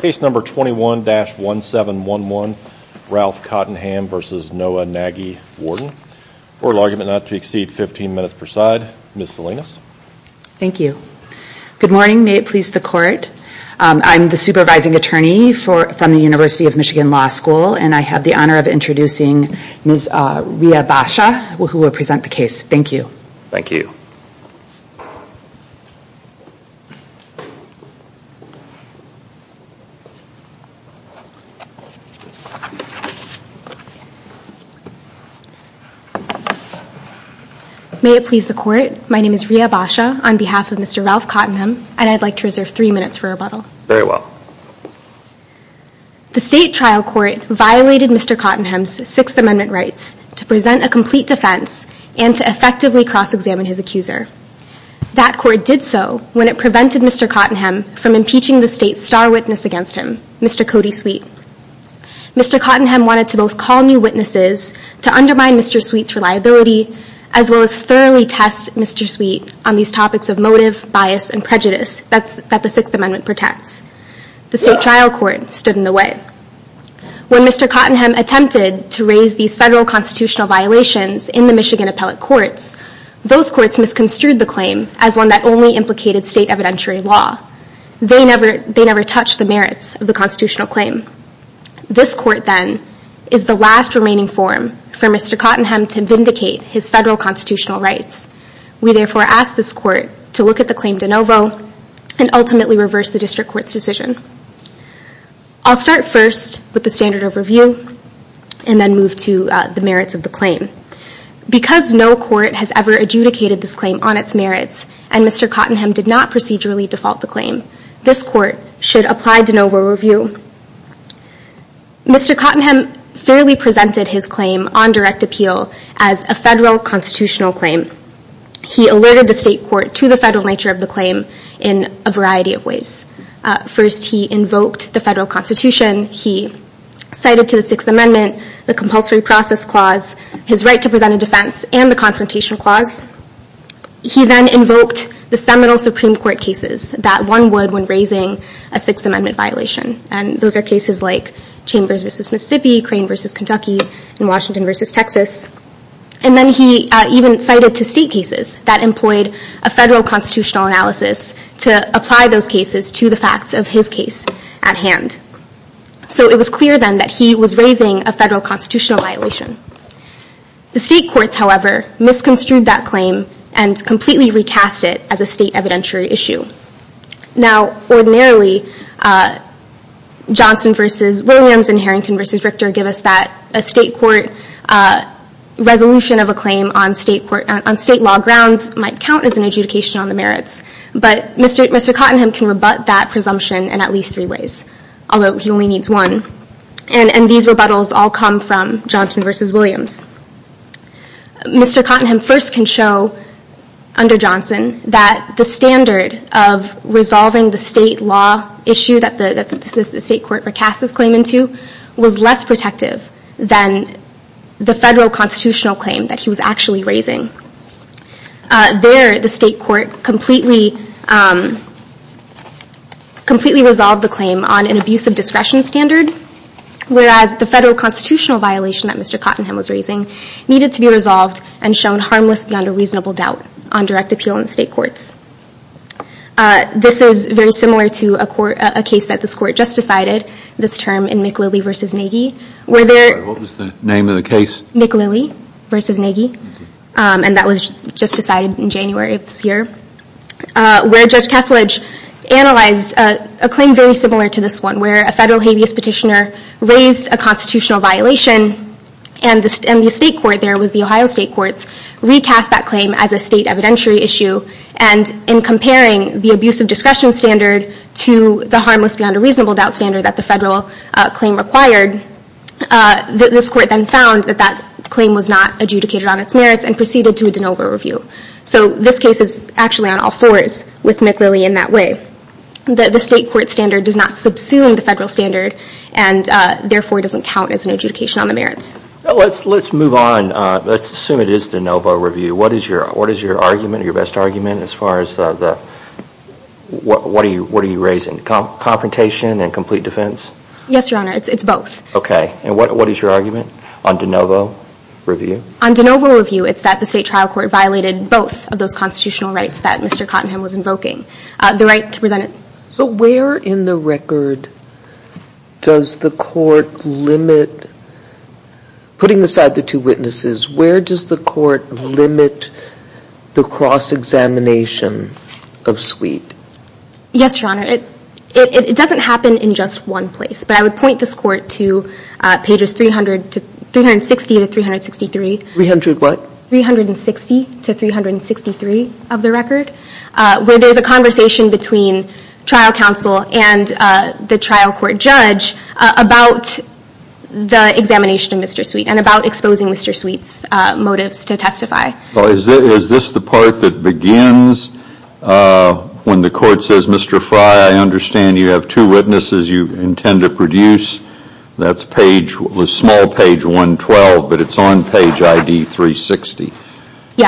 Case number 21-1711, Ralph Cottenham v. Noah Nagy, Warden. Order of argument not to exceed 15 minutes per side. Ms. Salinas. Thank you. Good morning, may it please the court. I'm the supervising attorney from the University of Michigan Law School, and I have the honor of introducing Ms. Rhea Basha, who will present the case. Thank you. Thank you. May it please the court, my name is Rhea Basha on behalf of Mr. Ralph Cottenham, and I'd like to reserve three minutes for rebuttal. Very well. The state trial court violated Mr. Cottenham's Sixth Amendment rights to present a complete defense and to effectively cross-examine his accuser. That court did so when it prevented Mr. Cottenham from impeaching the state's star witness against him, Mr. Cody Sweet. Mr. Cottenham wanted to both call new witnesses to undermine Mr. Sweet's reliability, as well as thoroughly test Mr. Sweet on these topics of motive, bias, and prejudice that the Sixth Amendment protects. The state trial court stood in the way. When Mr. Cottenham attempted to raise these federal constitutional violations in the Michigan appellate courts, those courts misconstrued the claim as one that only implicated state evidentiary law. They never touched the merits of the constitutional claim. This court then is the last remaining forum for Mr. Cottenham to vindicate his federal constitutional rights. We therefore ask this court to look at the claim de novo and ultimately reverse the district court's decision. I'll start first with the standard of review and then move to the merits of the claim. Because no court has ever adjudicated this claim on its merits and Mr. Cottenham did not procedurally default the claim, this court should apply de novo review. Mr. Cottenham fairly presented his claim on direct appeal as a federal constitutional claim. He alerted the state court to the federal nature of the claim in a variety of ways. First, he invoked the federal constitution. He cited to the Sixth Amendment the compulsory process clause, his right to present a defense, and the confrontation clause. He then invoked the seminal Supreme Court cases that one would when raising a Sixth Amendment violation. And those are cases like Chambers v. Mississippi, Crane v. Kentucky, and Washington v. Texas. And then he even cited to state cases that employed a federal constitutional analysis to apply those cases to the facts of his case at hand. So it was clear then that he was raising a federal constitutional violation. The state courts, however, misconstrued that claim and completely recast it as a state evidentiary issue. Now, ordinarily, Johnson v. Williams and Harrington v. Richter give us that a state court resolution of a claim on state law grounds might count as an adjudication on the merits. But Mr. Cottenham can rebut that presumption in at least three ways, although he only needs one. And these rebuttals all come from Johnson v. Williams. Mr. Cottenham first can show under Johnson that the standard of resolving the state law issue that the state court recast this claim into was less protective than the federal constitutional claim that he was actually raising. There, the state court completely resolved the claim on an abuse of discretion standard, whereas the federal constitutional violation that Mr. Cottenham was raising needed to be resolved and shown harmless beyond a reasonable doubt on direct appeal in the state courts. This is very similar to a case that this court just decided, this term in McLilley v. Nagy. What was the name of the case? McLilley v. Nagy. And that was just decided in January of this year, where Judge Kethledge analyzed a claim very similar to this one, where a federal habeas petitioner raised a constitutional violation and the state court there was the Ohio State Courts, recast that claim as a state evidentiary issue. And in comparing the abuse of discretion standard to the harmless beyond a reasonable doubt standard that the federal claim required, this court then found that that claim was not adjudicated on its merits and proceeded to a de novo review. So this case is actually on all fours with McLilley in that way. The state court standard does not subsume the federal standard and therefore doesn't count as an adjudication on the merits. So let's move on. Let's assume it is de novo review. What is your argument, your best argument as far as the, what are you raising, confrontation and complete defense? Yes, Your Honor, it's both. Okay, and what is your argument on de novo review? On de novo review, it's that the state trial court violated both of those constitutional rights that Mr. Cottenham was invoking, the right to present it. But where in the record does the court limit, putting aside the two witnesses, where does the court limit the cross-examination of Sweet? Yes, Your Honor, it doesn't happen in just one place, but I would point this court to pages 360 to 363. Three hundred what? 360 to 363 of the record, where there's a conversation between trial counsel and the trial court judge about the examination of Mr. Sweet and about exposing Mr. Sweet's motives to testify. Is this the part that begins when the court says, Mr. Frye, I understand you have two witnesses you intend to produce. That's page, the small page 112, but it's on page ID 360. Yeah,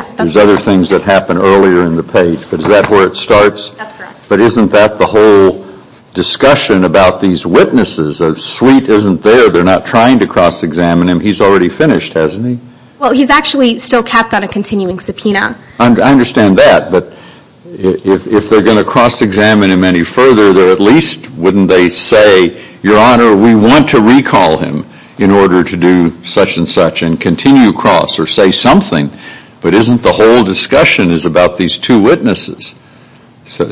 that's correct. There's other things that happen earlier in the page. Is that where it starts? That's correct. But isn't that the whole discussion about these witnesses? Sweet isn't there. They're not trying to cross-examine him. He's already finished, hasn't he? Well, he's actually still capped on a continuing subpoena. I understand that. But if they're going to cross-examine him any further, at least wouldn't they say, Your Honor, we want to recall him in order to do such and such and continue cross or say something. But isn't the whole discussion is about these two witnesses? So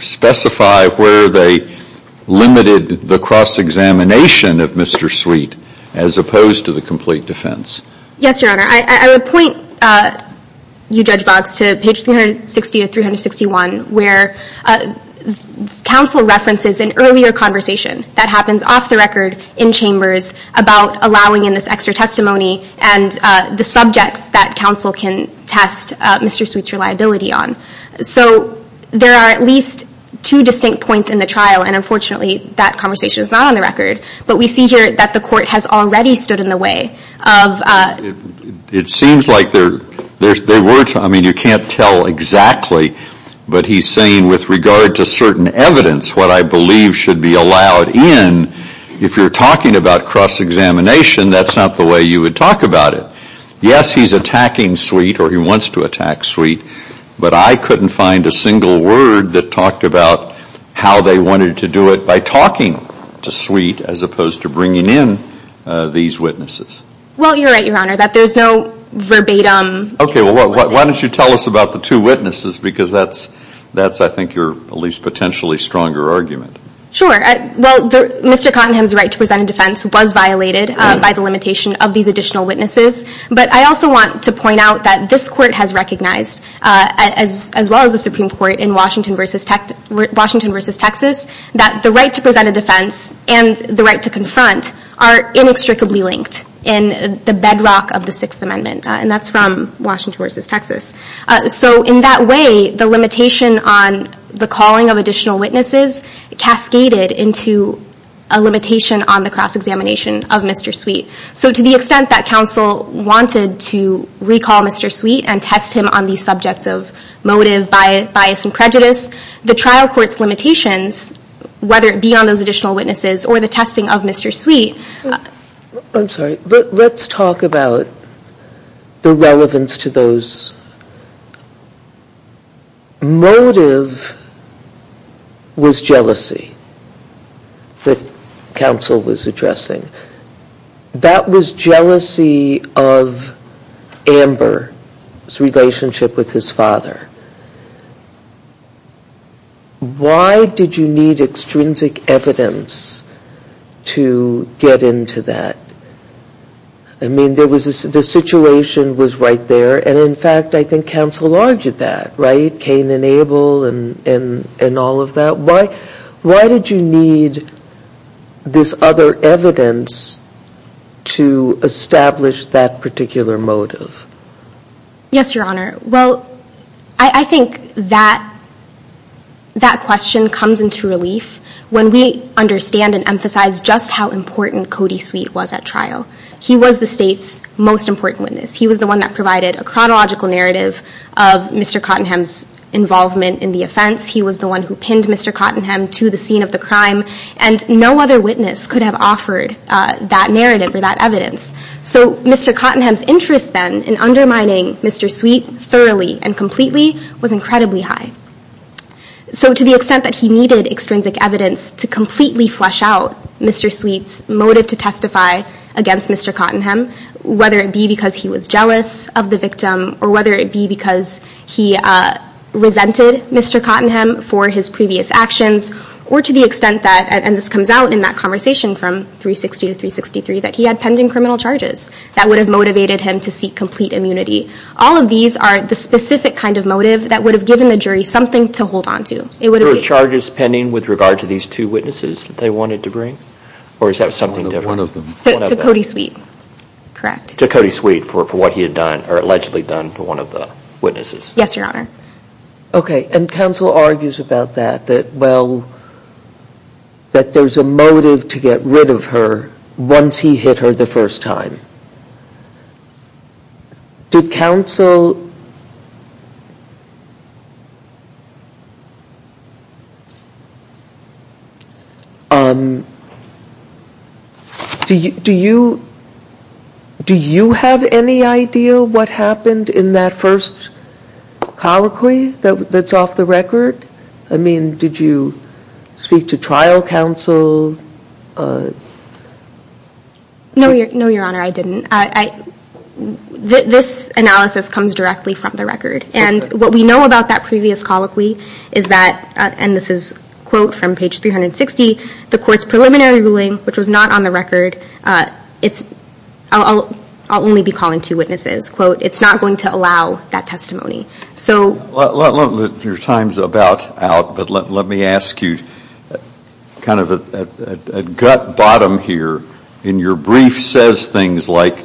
specify where they limited the cross-examination of Mr. Sweet as opposed to the complete defense. Yes, Your Honor. I would point you, Judge Boggs, to page 360 to 361, where counsel references an earlier conversation that happens off the record in chambers about allowing in this extra testimony and the subjects that counsel can test Mr. Sweet's reliability on. So there are at least two distinct points in the trial, and unfortunately that conversation is not on the record. But we see here that the court has already stood in the way of It seems like there were, I mean, you can't tell exactly, but he's saying with regard to certain evidence, what I believe should be allowed in. If you're talking about cross-examination, that's not the way you would talk about it. Yes, he's attacking Sweet or he wants to attack Sweet, but I couldn't find a single word that talked about how they wanted to do it by talking to Sweet as opposed to bringing in these witnesses. Well, you're right, Your Honor, that there's no verbatim. Okay, well, why don't you tell us about the two witnesses, because that's, I think, your at least potentially stronger argument. Sure. Well, Mr. Cottenham's right to present a defense was violated by the limitation of these additional witnesses, but I also want to point out that this court has recognized, as well as the Supreme Court in Washington v. Texas, that the right to present a defense and the right to confront are inextricably linked in the bedrock of the Sixth Amendment, and that's from Washington v. Texas. So in that way, the limitation on the calling of additional witnesses cascaded into a limitation on the cross-examination of Mr. Sweet. So to the extent that counsel wanted to recall Mr. Sweet and test him on the subject of motive, bias, and prejudice, the trial court's limitations, whether it be on those additional witnesses or the testing of Mr. Sweet. I'm sorry. Let's talk about the relevance to those. Motive was jealousy that counsel was addressing. That was jealousy of Amber's relationship with his father. Why did you need extrinsic evidence to get into that? I mean, the situation was right there, and in fact I think counsel argued that, right? Cain and Abel and all of that. Why did you need this other evidence to establish that particular motive? Yes, Your Honor. Well, I think that question comes into relief when we understand and emphasize just how important Cody Sweet was at trial. He was the state's most important witness. He was the one that provided a chronological narrative of Mr. Cottenham's involvement in the offense. He was the one who pinned Mr. Cottenham to the scene of the crime, and no other witness could have offered that narrative or that evidence. So Mr. Cottenham's interest then in undermining Mr. Sweet thoroughly and completely was incredibly high. So to the extent that he needed extrinsic evidence to completely flesh out Mr. Sweet's motive to testify against Mr. Cottenham, whether it be because he was jealous of the victim or whether it be because he resented Mr. Cottenham for his previous actions, or to the extent that, and this comes out in that conversation from 360 to 363, that he had pending criminal charges that would have motivated him to seek complete immunity. All of these are the specific kind of motive that would have given the jury something to hold on to. There were charges pending with regard to these two witnesses that they wanted to bring? Or is that something different? One of them. To Cody Sweet, correct. To Cody Sweet for what he had done or allegedly done to one of the witnesses. Yes, Your Honor. Okay, and counsel argues about that, that, well, that there's a motive to get rid of her once he hit her the first time. Did counsel... Do you have any idea what happened in that first colloquy that's off the record? I mean, did you speak to trial counsel? No, Your Honor, I didn't. This analysis comes directly from the record, and what we know about that previous colloquy is that, and this is quote from page 360, the court's preliminary ruling, which was not on the record, it's, I'll only be calling two witnesses, quote, it's not going to allow that testimony. Your time's about out, but let me ask you kind of at gut bottom here, in your brief says things like,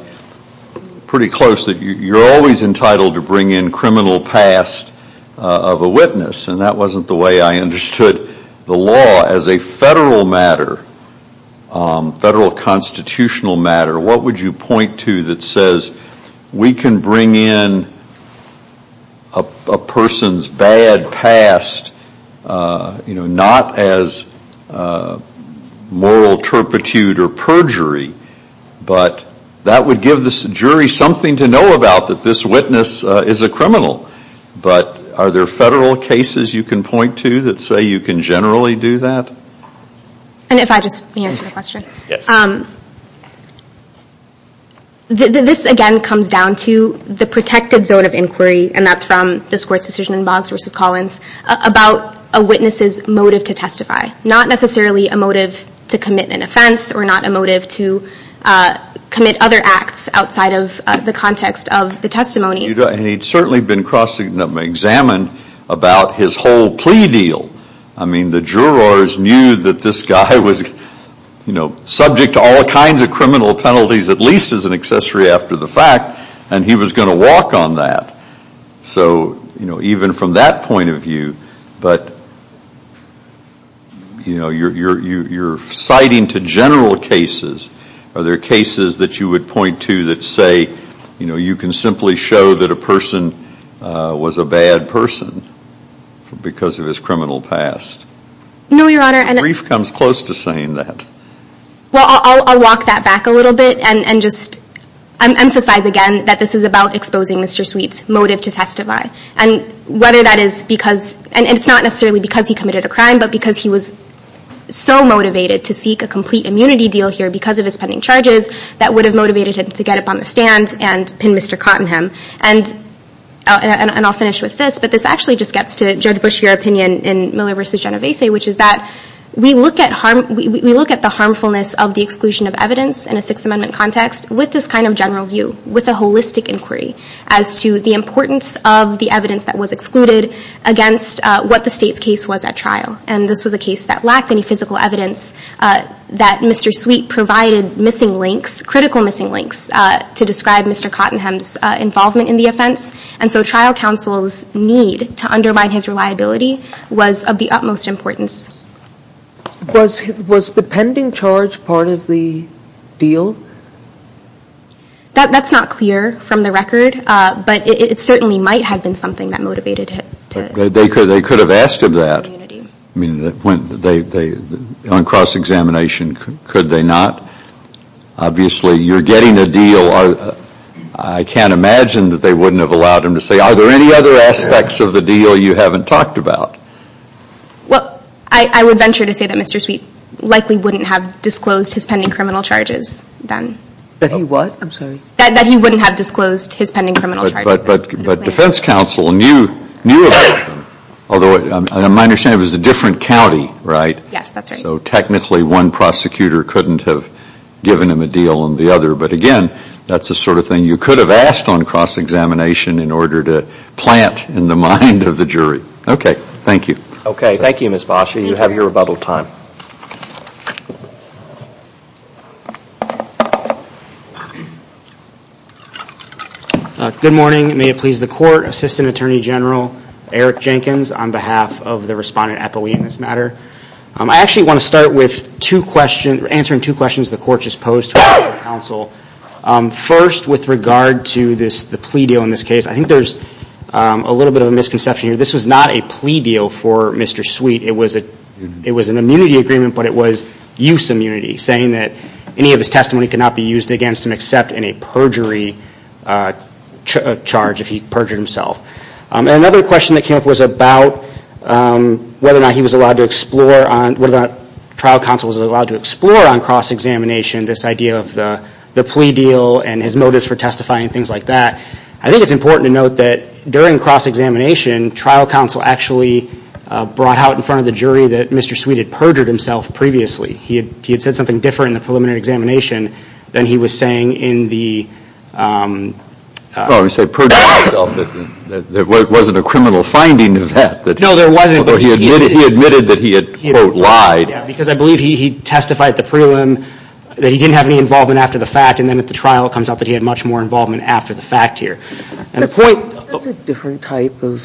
pretty close, that you're always entitled to bring in criminal past of a witness, and that wasn't the way I understood the law. As a federal matter, federal constitutional matter, what would you point to that says, we can bring in a person's bad past, not as moral turpitude or perjury, but that would give the jury something to know about, that this witness is a criminal. But are there federal cases you can point to that say you can generally do that? And if I just may answer the question. Yes. This again comes down to the protected zone of inquiry, and that's from this court's decision in Boggs v. Collins, about a witness's motive to testify. Not necessarily a motive to commit an offense, or not a motive to commit other acts outside of the context of the testimony. And he'd certainly been cross examined about his whole plea deal. I mean, the jurors knew that this guy was, you know, all kinds of criminal penalties at least as an accessory after the fact, and he was going to walk on that. So, you know, even from that point of view, but, you know, you're citing to general cases. Are there cases that you would point to that say, you know, you can simply show that a person was a bad person because of his criminal past? No, Your Honor. The brief comes close to saying that. Well, I'll walk that back a little bit and just emphasize again that this is about exposing Mr. Sweet's motive to testify. And whether that is because, and it's not necessarily because he committed a crime, but because he was so motivated to seek a complete immunity deal here because of his pending charges that would have motivated him to get up on the stand and pin Mr. Cottenham. And I'll finish with this, but this actually just gets to Judge Bush's opinion in Miller v. Genovese, which is that we look at the harmfulness of the exclusion of evidence in a Sixth Amendment context with this kind of general view, with a holistic inquiry, as to the importance of the evidence that was excluded against what the State's case was at trial. And this was a case that lacked any physical evidence that Mr. Sweet provided missing links, critical missing links, to describe Mr. Cottenham's involvement in the offense. And so trial counsel's need to undermine his reliability was of the utmost importance. Was the pending charge part of the deal? That's not clear from the record, but it certainly might have been something that motivated him. They could have asked him that. I mean, on cross-examination, could they not? Obviously, you're getting a deal. I can't imagine that they wouldn't have allowed him to say, are there any other aspects of the deal you haven't talked about? Well, I would venture to say that Mr. Sweet likely wouldn't have disclosed his pending criminal charges then. That he what? I'm sorry. That he wouldn't have disclosed his pending criminal charges. But defense counsel knew about them. Although my understanding was it was a different county, right? Yes, that's right. So technically, one prosecutor couldn't have given him a deal on the other. But again, that's the sort of thing you could have asked on cross-examination in order to plant in the mind of the jury. Okay, thank you. Okay, thank you, Ms. Basha. You have your rebuttal time. Good morning. May it please the Court. Assistant Attorney General Eric Jenkins on behalf of the respondent appellee in this matter. I actually want to start with answering two questions the Court just posed to counsel. First, with regard to the plea deal in this case, I think there's a little bit of a misconception here. This was not a plea deal for Mr. Sweet. It was an immunity agreement, but it was use immunity, saying that any of his testimony could not be used against him except in a perjury charge if he perjured himself. Another question that came up was about whether or not he was allowed to explore on whether or not trial counsel was allowed to explore on cross-examination this idea of the plea deal and his motives for testifying and things like that. I think it's important to note that during cross-examination, trial counsel actually brought out in front of the jury that Mr. Sweet had perjured himself previously. He had said something different in the preliminary examination than he was saying in the Well, you say perjured himself. There wasn't a criminal finding of that. No, there wasn't. He admitted that he had, quote, lied. Because I believe he testified at the prelim that he didn't have any involvement after the fact, and then at the trial it comes out that he had much more involvement after the fact here. That's a different type of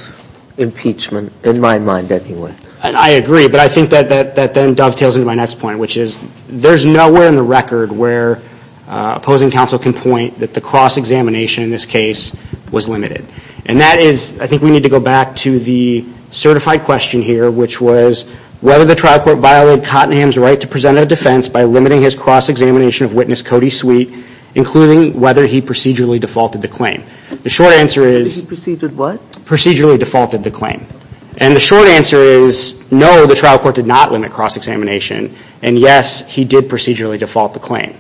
impeachment, in my mind, anyway. I agree, but I think that then dovetails into my next point, which is there's nowhere in the record where opposing counsel can point that the cross-examination in this case was limited. And that is, I think we need to go back to the certified question here, which was whether the trial court violated Cottenham's right to present a defense by limiting his cross-examination of witness Cody Sweet, including whether he procedurally defaulted the claim. The short answer is. He procedurally what? Procedurally defaulted the claim. And the short answer is, no, the trial court did not limit cross-examination, and yes, he did procedurally default the claim.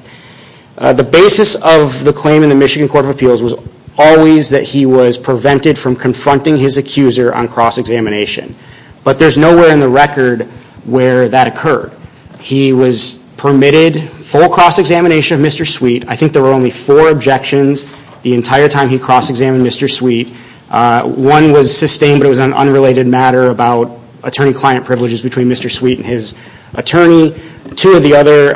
The basis of the claim in the Michigan Court of Appeals was always that he was prevented from confronting his accuser on cross-examination. But there's nowhere in the record where that occurred. He was permitted full cross-examination of Mr. Sweet. I think there were only four objections the entire time he cross-examined Mr. Sweet. One was sustained, but it was an unrelated matter about attorney-client privileges between Mr. Sweet and his attorney. Two of the other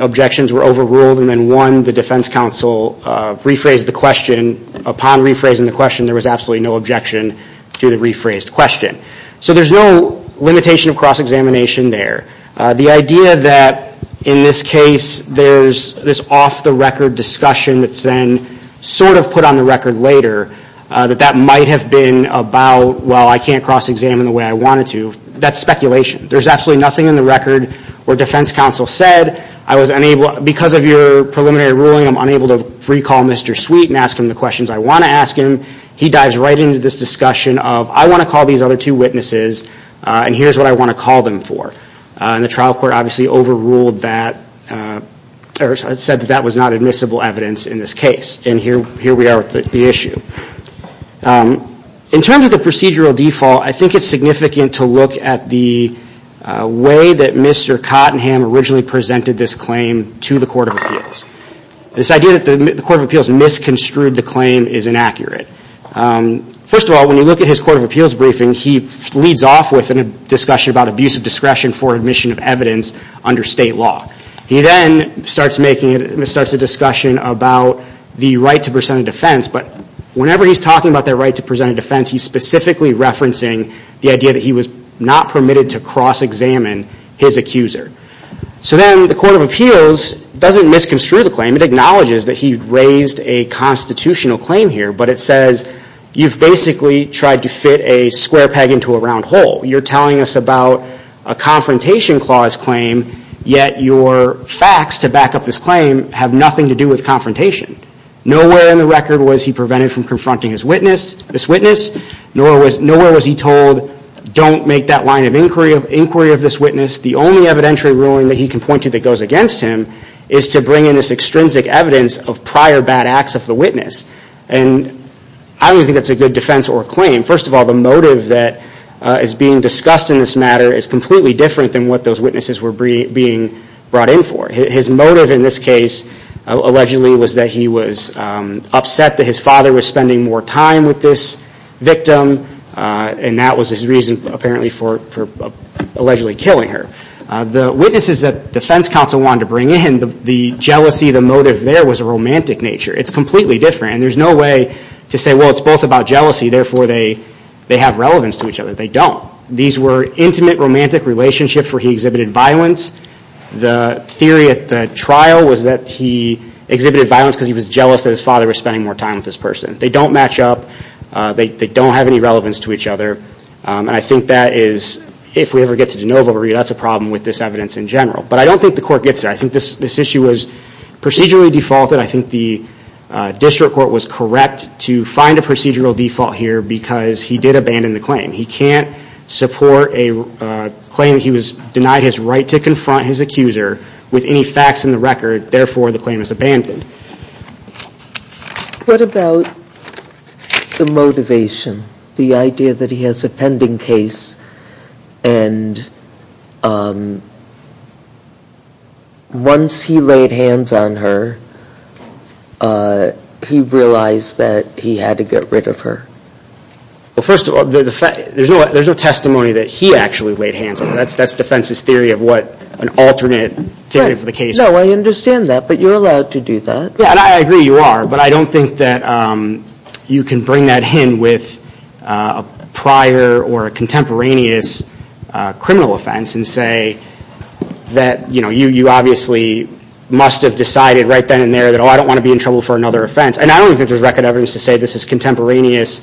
objections were overruled, and then one, the defense counsel rephrased the question. Upon rephrasing the question, there was absolutely no objection to the rephrased question. So there's no limitation of cross-examination there. The idea that in this case there's this off-the-record discussion that's then sort of put on the record later, that that might have been about, well, I can't cross-examine the way I wanted to, that's speculation. There's absolutely nothing in the record where defense counsel said, because of your preliminary ruling I'm unable to recall Mr. Sweet and ask him the questions I want to ask him. He dives right into this discussion of, I want to call these other two witnesses, and here's what I want to call them for. And the trial court obviously overruled that, or said that that was not admissible evidence in this case. And here we are with the issue. In terms of the procedural default, I think it's significant to look at the way that Mr. Cottenham originally presented this claim to the Court of Appeals. This idea that the Court of Appeals misconstrued the claim is inaccurate. First of all, when you look at his Court of Appeals briefing, he leads off with a discussion about abuse of discretion for admission of evidence under state law. He then starts a discussion about the right to present a defense, but whenever he's talking about that right to present a defense, he's specifically referencing the idea that he was not permitted to cross-examine his accuser. So then the Court of Appeals doesn't misconstrue the claim. It acknowledges that he raised a constitutional claim here, but it says you've basically tried to fit a square peg into a round hole. You're telling us about a confrontation clause claim, yet your facts to back up this claim have nothing to do with confrontation. Nowhere in the record was he prevented from confronting this witness, nor was he told, don't make that line of inquiry of this witness. The only evidentiary ruling that he can point to that goes against him is to bring in this extrinsic evidence of prior bad acts of the witness. And I don't even think that's a good defense or claim. First of all, the motive that is being discussed in this matter is completely different than what those witnesses were being brought in for. His motive in this case allegedly was that he was upset that his father was spending more time with this victim, and that was his reason apparently for allegedly killing her. The witnesses that defense counsel wanted to bring in, the jealousy, the motive there was a romantic nature. It's completely different, and there's no way to say, well, it's both about jealousy, therefore they have relevance to each other. They don't. These were intimate, romantic relationships where he exhibited violence. The theory at the trial was that he exhibited violence because he was jealous that his father was spending more time with this person. They don't match up. They don't have any relevance to each other. And I think that is, if we ever get to de novo, that's a problem with this evidence in general. But I don't think the court gets that. I think this issue was procedurally defaulted. I think the district court was correct to find a procedural default here because he did abandon the claim. He can't support a claim that he was denied his right to confront his accuser with any facts in the record, therefore the claim is abandoned. What about the motivation, the idea that he has a pending case, and once he laid hands on her, he realized that he had to get rid of her? Well, first of all, there's no testimony that he actually laid hands on her. That's defense's theory of what an alternate theory for the case would be. No, I understand that, but you're allowed to do that. Yeah, and I agree you are, but I don't think that you can bring that in with a prior or a contemporaneous criminal offense and say that you obviously must have decided right then and there that, oh, I don't want to be in trouble for another offense. And I don't think there's record evidence to say this is contemporaneous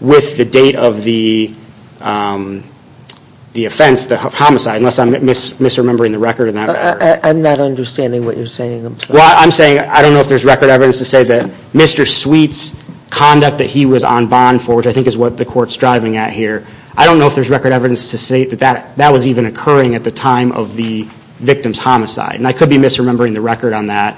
with the date of the offense, the homicide, unless I'm misremembering the record in that regard. I'm not understanding what you're saying. Well, I'm saying I don't know if there's record evidence to say that Mr. Sweet's conduct that he was on bond for, which I think is what the Court's driving at here, I don't know if there's record evidence to say that that was even occurring at the time of the victim's homicide. And I could be misremembering the record on that,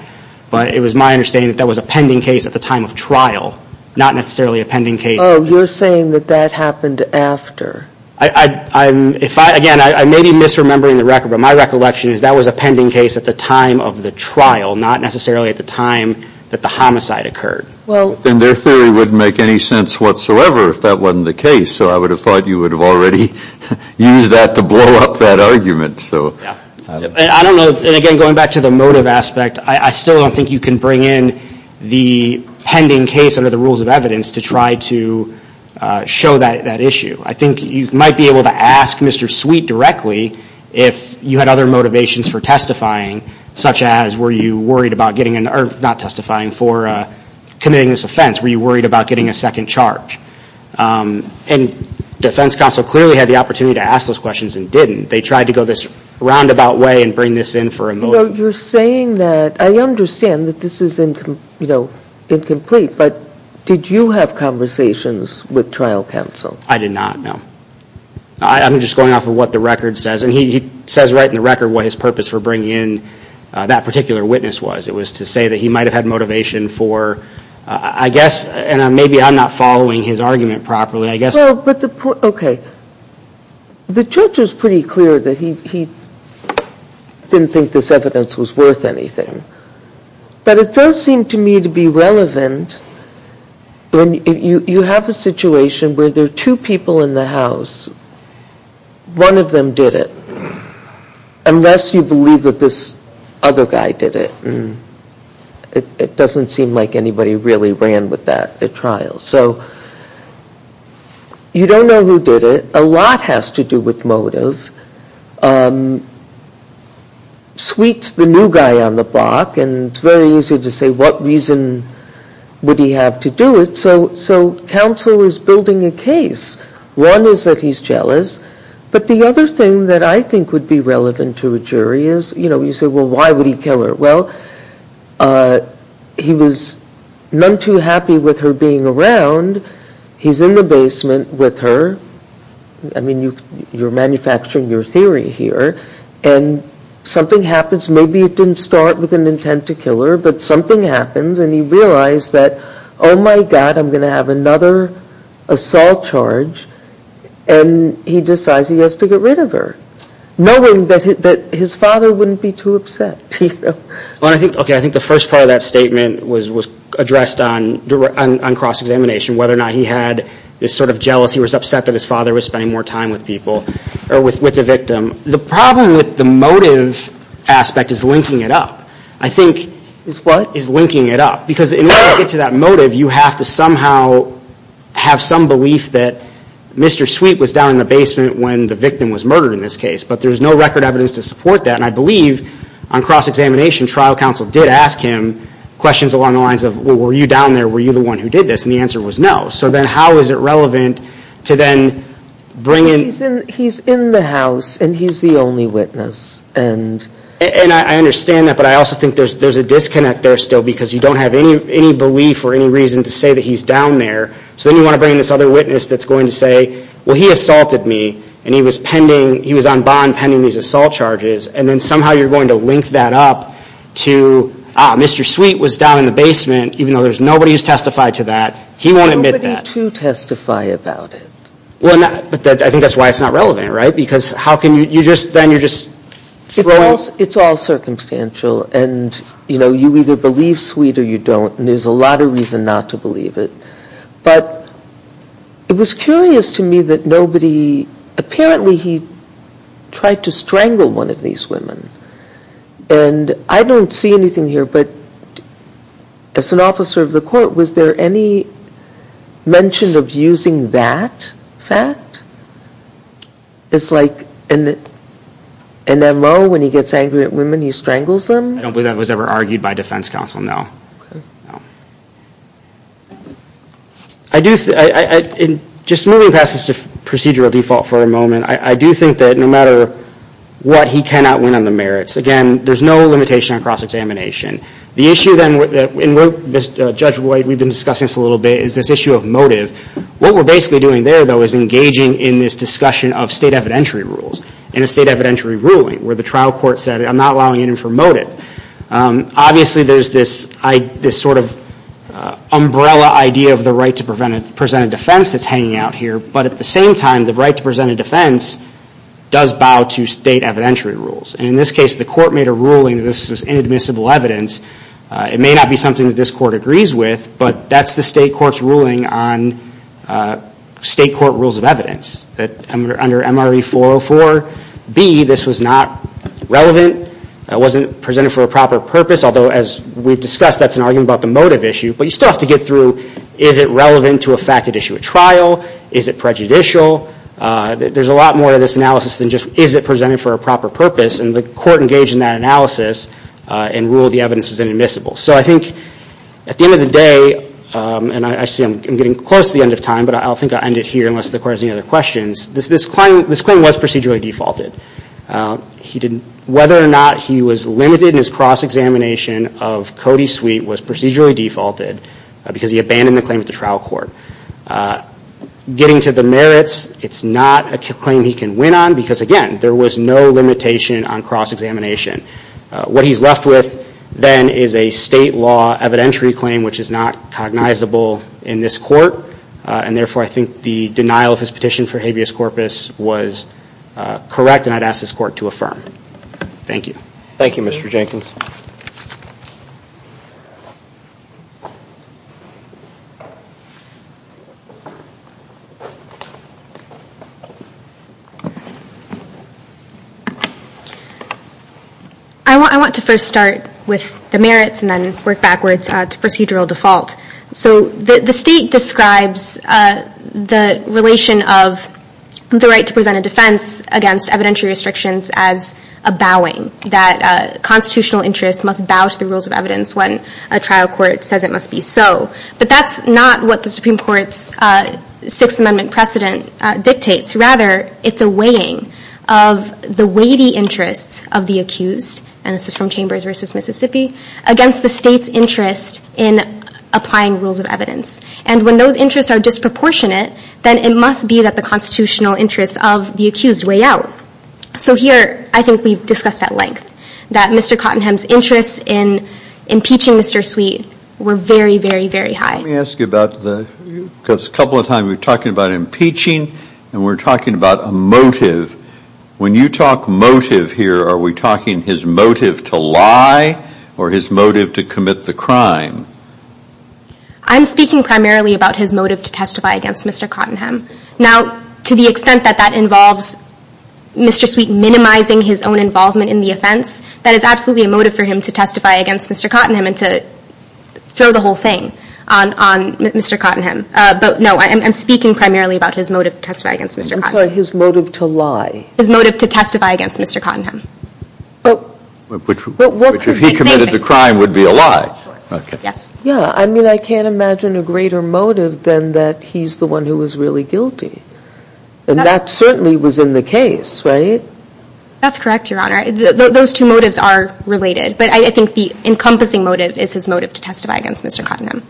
but it was my understanding that that was a pending case at the time of trial, not necessarily a pending case. Oh, you're saying that that happened after. Again, I may be misremembering the record, but my recollection is that was a pending case at the time of the trial, not necessarily at the time that the homicide occurred. Well, then their theory wouldn't make any sense whatsoever if that wasn't the case, so I would have thought you would have already used that to blow up that argument. I don't know, and again, going back to the motive aspect, I still don't think you can bring in the pending case under the rules of evidence to try to show that issue. I think you might be able to ask Mr. Sweet directly if you had other motivations for testifying, such as were you worried about committing this offense? Were you worried about getting a second charge? And defense counsel clearly had the opportunity to ask those questions and didn't. They tried to go this roundabout way and bring this in for a motive. You're saying that I understand that this is incomplete, but did you have conversations with trial counsel? I did not, no. I'm just going off of what the record says, and he says right in the record what his purpose for bringing in that particular witness was. It was to say that he might have had motivation for, I guess, and maybe I'm not following his argument properly, I guess. Okay. The judge was pretty clear that he didn't think this evidence was worth anything, but it does seem to me to be relevant and you have a situation where there are two people in the house. One of them did it, unless you believe that this other guy did it. It doesn't seem like anybody really ran with that at trial. So you don't know who did it. A lot has to do with motive. Sweet's the new guy on the block, and it's very easy to say what reason would he have to do it. So counsel is building a case. One is that he's jealous, but the other thing that I think would be relevant to a jury is, you know, you say, well, why would he kill her? Well, he was none too happy with her being around. He's in the basement with her. I mean, you're manufacturing your theory here, and something happens. Maybe it didn't start with an intent to kill her, but something happens and he realized that, oh, my God, I'm going to have another assault charge, and he decides he has to get rid of her, knowing that his father wouldn't be too upset. Okay, I think the first part of that statement was addressed on cross-examination, whether or not he had this sort of jealousy or was upset that his father was spending more time with the victim. The problem with the motive aspect is linking it up. I think is linking it up, because in order to get to that motive, you have to somehow have some belief that Mr. Sweet was down in the basement when the victim was murdered in this case, but there's no record evidence to support that, and I believe on cross-examination, trial counsel did ask him questions along the lines of, well, were you down there? Were you the one who did this? And the answer was no. So then how is it relevant to then bring in? He's in the house, and he's the only witness. And I understand that, but I also think there's a disconnect there still, because you don't have any belief or any reason to say that he's down there. So then you want to bring in this other witness that's going to say, well, he assaulted me, and he was on bond pending these assault charges, and then somehow you're going to link that up to, ah, Mr. Sweet was down in the basement, even though there's nobody who's testified to that. He won't admit that. Nobody to testify about it. Well, I think that's why it's not relevant, right? Because then you're just throwing. It's all circumstantial, and you either believe Sweet or you don't, and there's a lot of reason not to believe it. But it was curious to me that nobody, apparently he tried to strangle one of these women, and I don't see anything here, but as an officer of the court, was there any mention of using that fact? It's like an M.O. when he gets angry at women, he strangles them? I don't believe that was ever argued by defense counsel, no. Just moving past this procedural default for a moment, I do think that no matter what, he cannot win on the merits. Again, there's no limitation on cross-examination. The issue then, and Judge White, we've been discussing this a little bit, is this issue of motive. What we're basically doing there, though, is engaging in this discussion of state evidentiary rules in a state evidentiary ruling, where the trial court said, I'm not allowing it in for motive. Obviously, there's this sort of umbrella idea of the right to present a defense that's hanging out here, but at the same time, the right to present a defense does bow to state evidentiary rules. In this case, the court made a ruling that this is inadmissible evidence. It may not be something that this court agrees with, but that's the state court's ruling on state court rules of evidence. Under MRE 404B, this was not relevant. It wasn't presented for a proper purpose, although as we've discussed, that's an argument about the motive issue. But you still have to get through, is it relevant to a facted issue at trial? Is it prejudicial? There's a lot more to this analysis than just, is it presented for a proper purpose? And the court engaged in that analysis and ruled the evidence was inadmissible. So I think, at the end of the day, and I see I'm getting close to the end of time, but I'll think I'll end it here, unless the court has any other questions. This claim was procedurally defaulted. Whether or not he was limited in his cross-examination of Cody Sweet was procedurally defaulted because he abandoned the claim at the trial court. Getting to the merits, it's not a claim he can win on because again, there was no limitation on cross-examination. What he's left with then is a state law evidentiary claim which is not cognizable in this court. And therefore, I think the denial of his petition for habeas corpus was correct and I'd ask this court to affirm. Thank you. Thank you, Mr. Jenkins. I want to first start with the merits and then work backwards to procedural default. So the state describes the relation of the right to present a defense against evidentiary restrictions as a bowing, that constitutional interests must bow to the rules of evidence when a trial court says it must be so. But that's not what the Supreme Court's Sixth Amendment precedent dictates. Rather, it's a weighing of the weighty interests of the accused and this is from Chambers v. Mississippi against the state's interest in applying rules of evidence. And when those interests are disproportionate, then it must be that the constitutional interests of the accused weigh out. So here, I think we've discussed at length that Mr. Cottenham's interests in impeaching Mr. Sweet were very, very, very high. Let me ask you about the, because a couple of times we were talking about impeaching and we were talking about a motive. When you talk motive here, are we talking his motive to lie or his motive to commit the crime? I'm speaking primarily about his motive to testify against Mr. Cottenham. Now, to the extent that that involves Mr. Sweet minimizing his own involvement in the offense, that is absolutely a motive for him to testify against Mr. Cottenham and to throw the whole thing on Mr. Cottenham. But no, I'm speaking primarily about his motive to testify against Mr. Cottenham. I'm sorry, his motive to lie. His motive to testify against Mr. Cottenham. Which if he committed the crime would be a lie. Yes. Yeah, I mean, I can't imagine a greater motive than that he's the one who was really guilty. And that certainly was in the case, right? That's correct, Your Honor. Those two motives are related. But I think the encompassing motive is his motive to testify against Mr. Cottenham.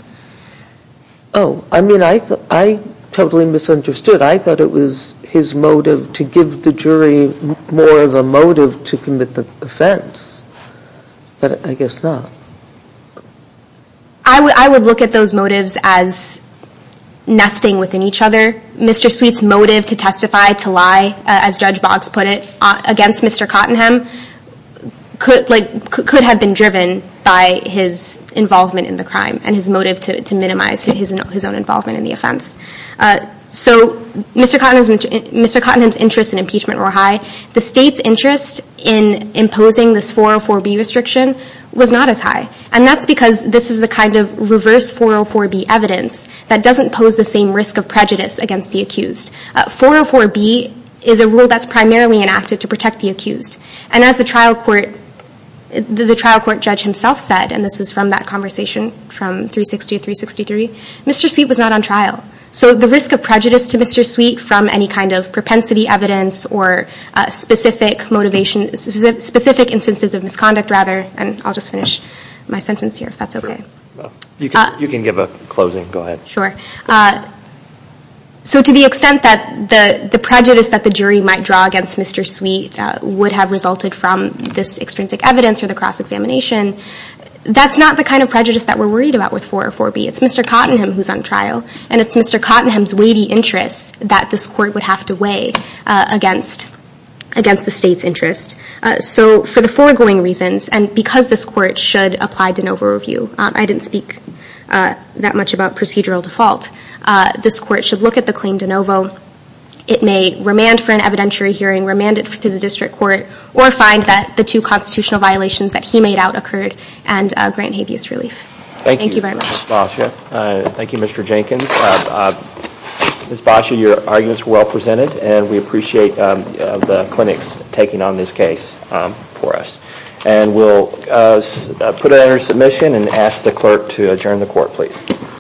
Oh, I mean, I totally misunderstood. I thought it was his motive to give the jury more of a motive to commit the offense. But I guess not. I would look at those motives as nesting within each other. Mr. Sweet's motive to testify, to lie, as Judge Boggs put it, against Mr. Cottenham could have been driven by his involvement in the crime and his motive to minimize his own involvement in the offense. So Mr. Cottenham's interests in impeachment were high. The state's interest in imposing this 404B restriction was not as high. And that's because this is the kind of reverse 404B evidence that doesn't pose the same risk of prejudice against the accused. 404B is a rule that's primarily enacted to protect the accused. And as the trial court judge himself said, and this is from that conversation from 360 to 363, Mr. Sweet was not on trial. So the risk of prejudice to Mr. Sweet from any kind of propensity evidence or specific motivation, specific instances of misconduct, rather, and I'll just finish my sentence here, if that's OK. You can give a closing. Go ahead. Sure. So to the extent that the prejudice that the jury might draw against Mr. Sweet would have resulted from this extrinsic evidence or the cross-examination, that's not the kind of prejudice that we're worried about with 404B. It's Mr. Cottenham who's on trial. And it's Mr. Cottenham's weighty interests that this court would have to weigh against the state's interest. So for the foregoing reasons, and because this court should apply de novo review, I didn't speak that much about procedural default, this court should look at the claim de novo. It may remand for an evidentiary hearing, remand it to the district court, or find that the two constitutional violations that he made out occurred, and grant habeas relief. Thank you very much. Thank you, Ms. Basha. Thank you, Mr. Jenkins. Ms. Basha, your arguments were well-presented, and we appreciate the clinics taking on this case for us. And we'll put it under submission and ask the clerk to adjourn the court, please.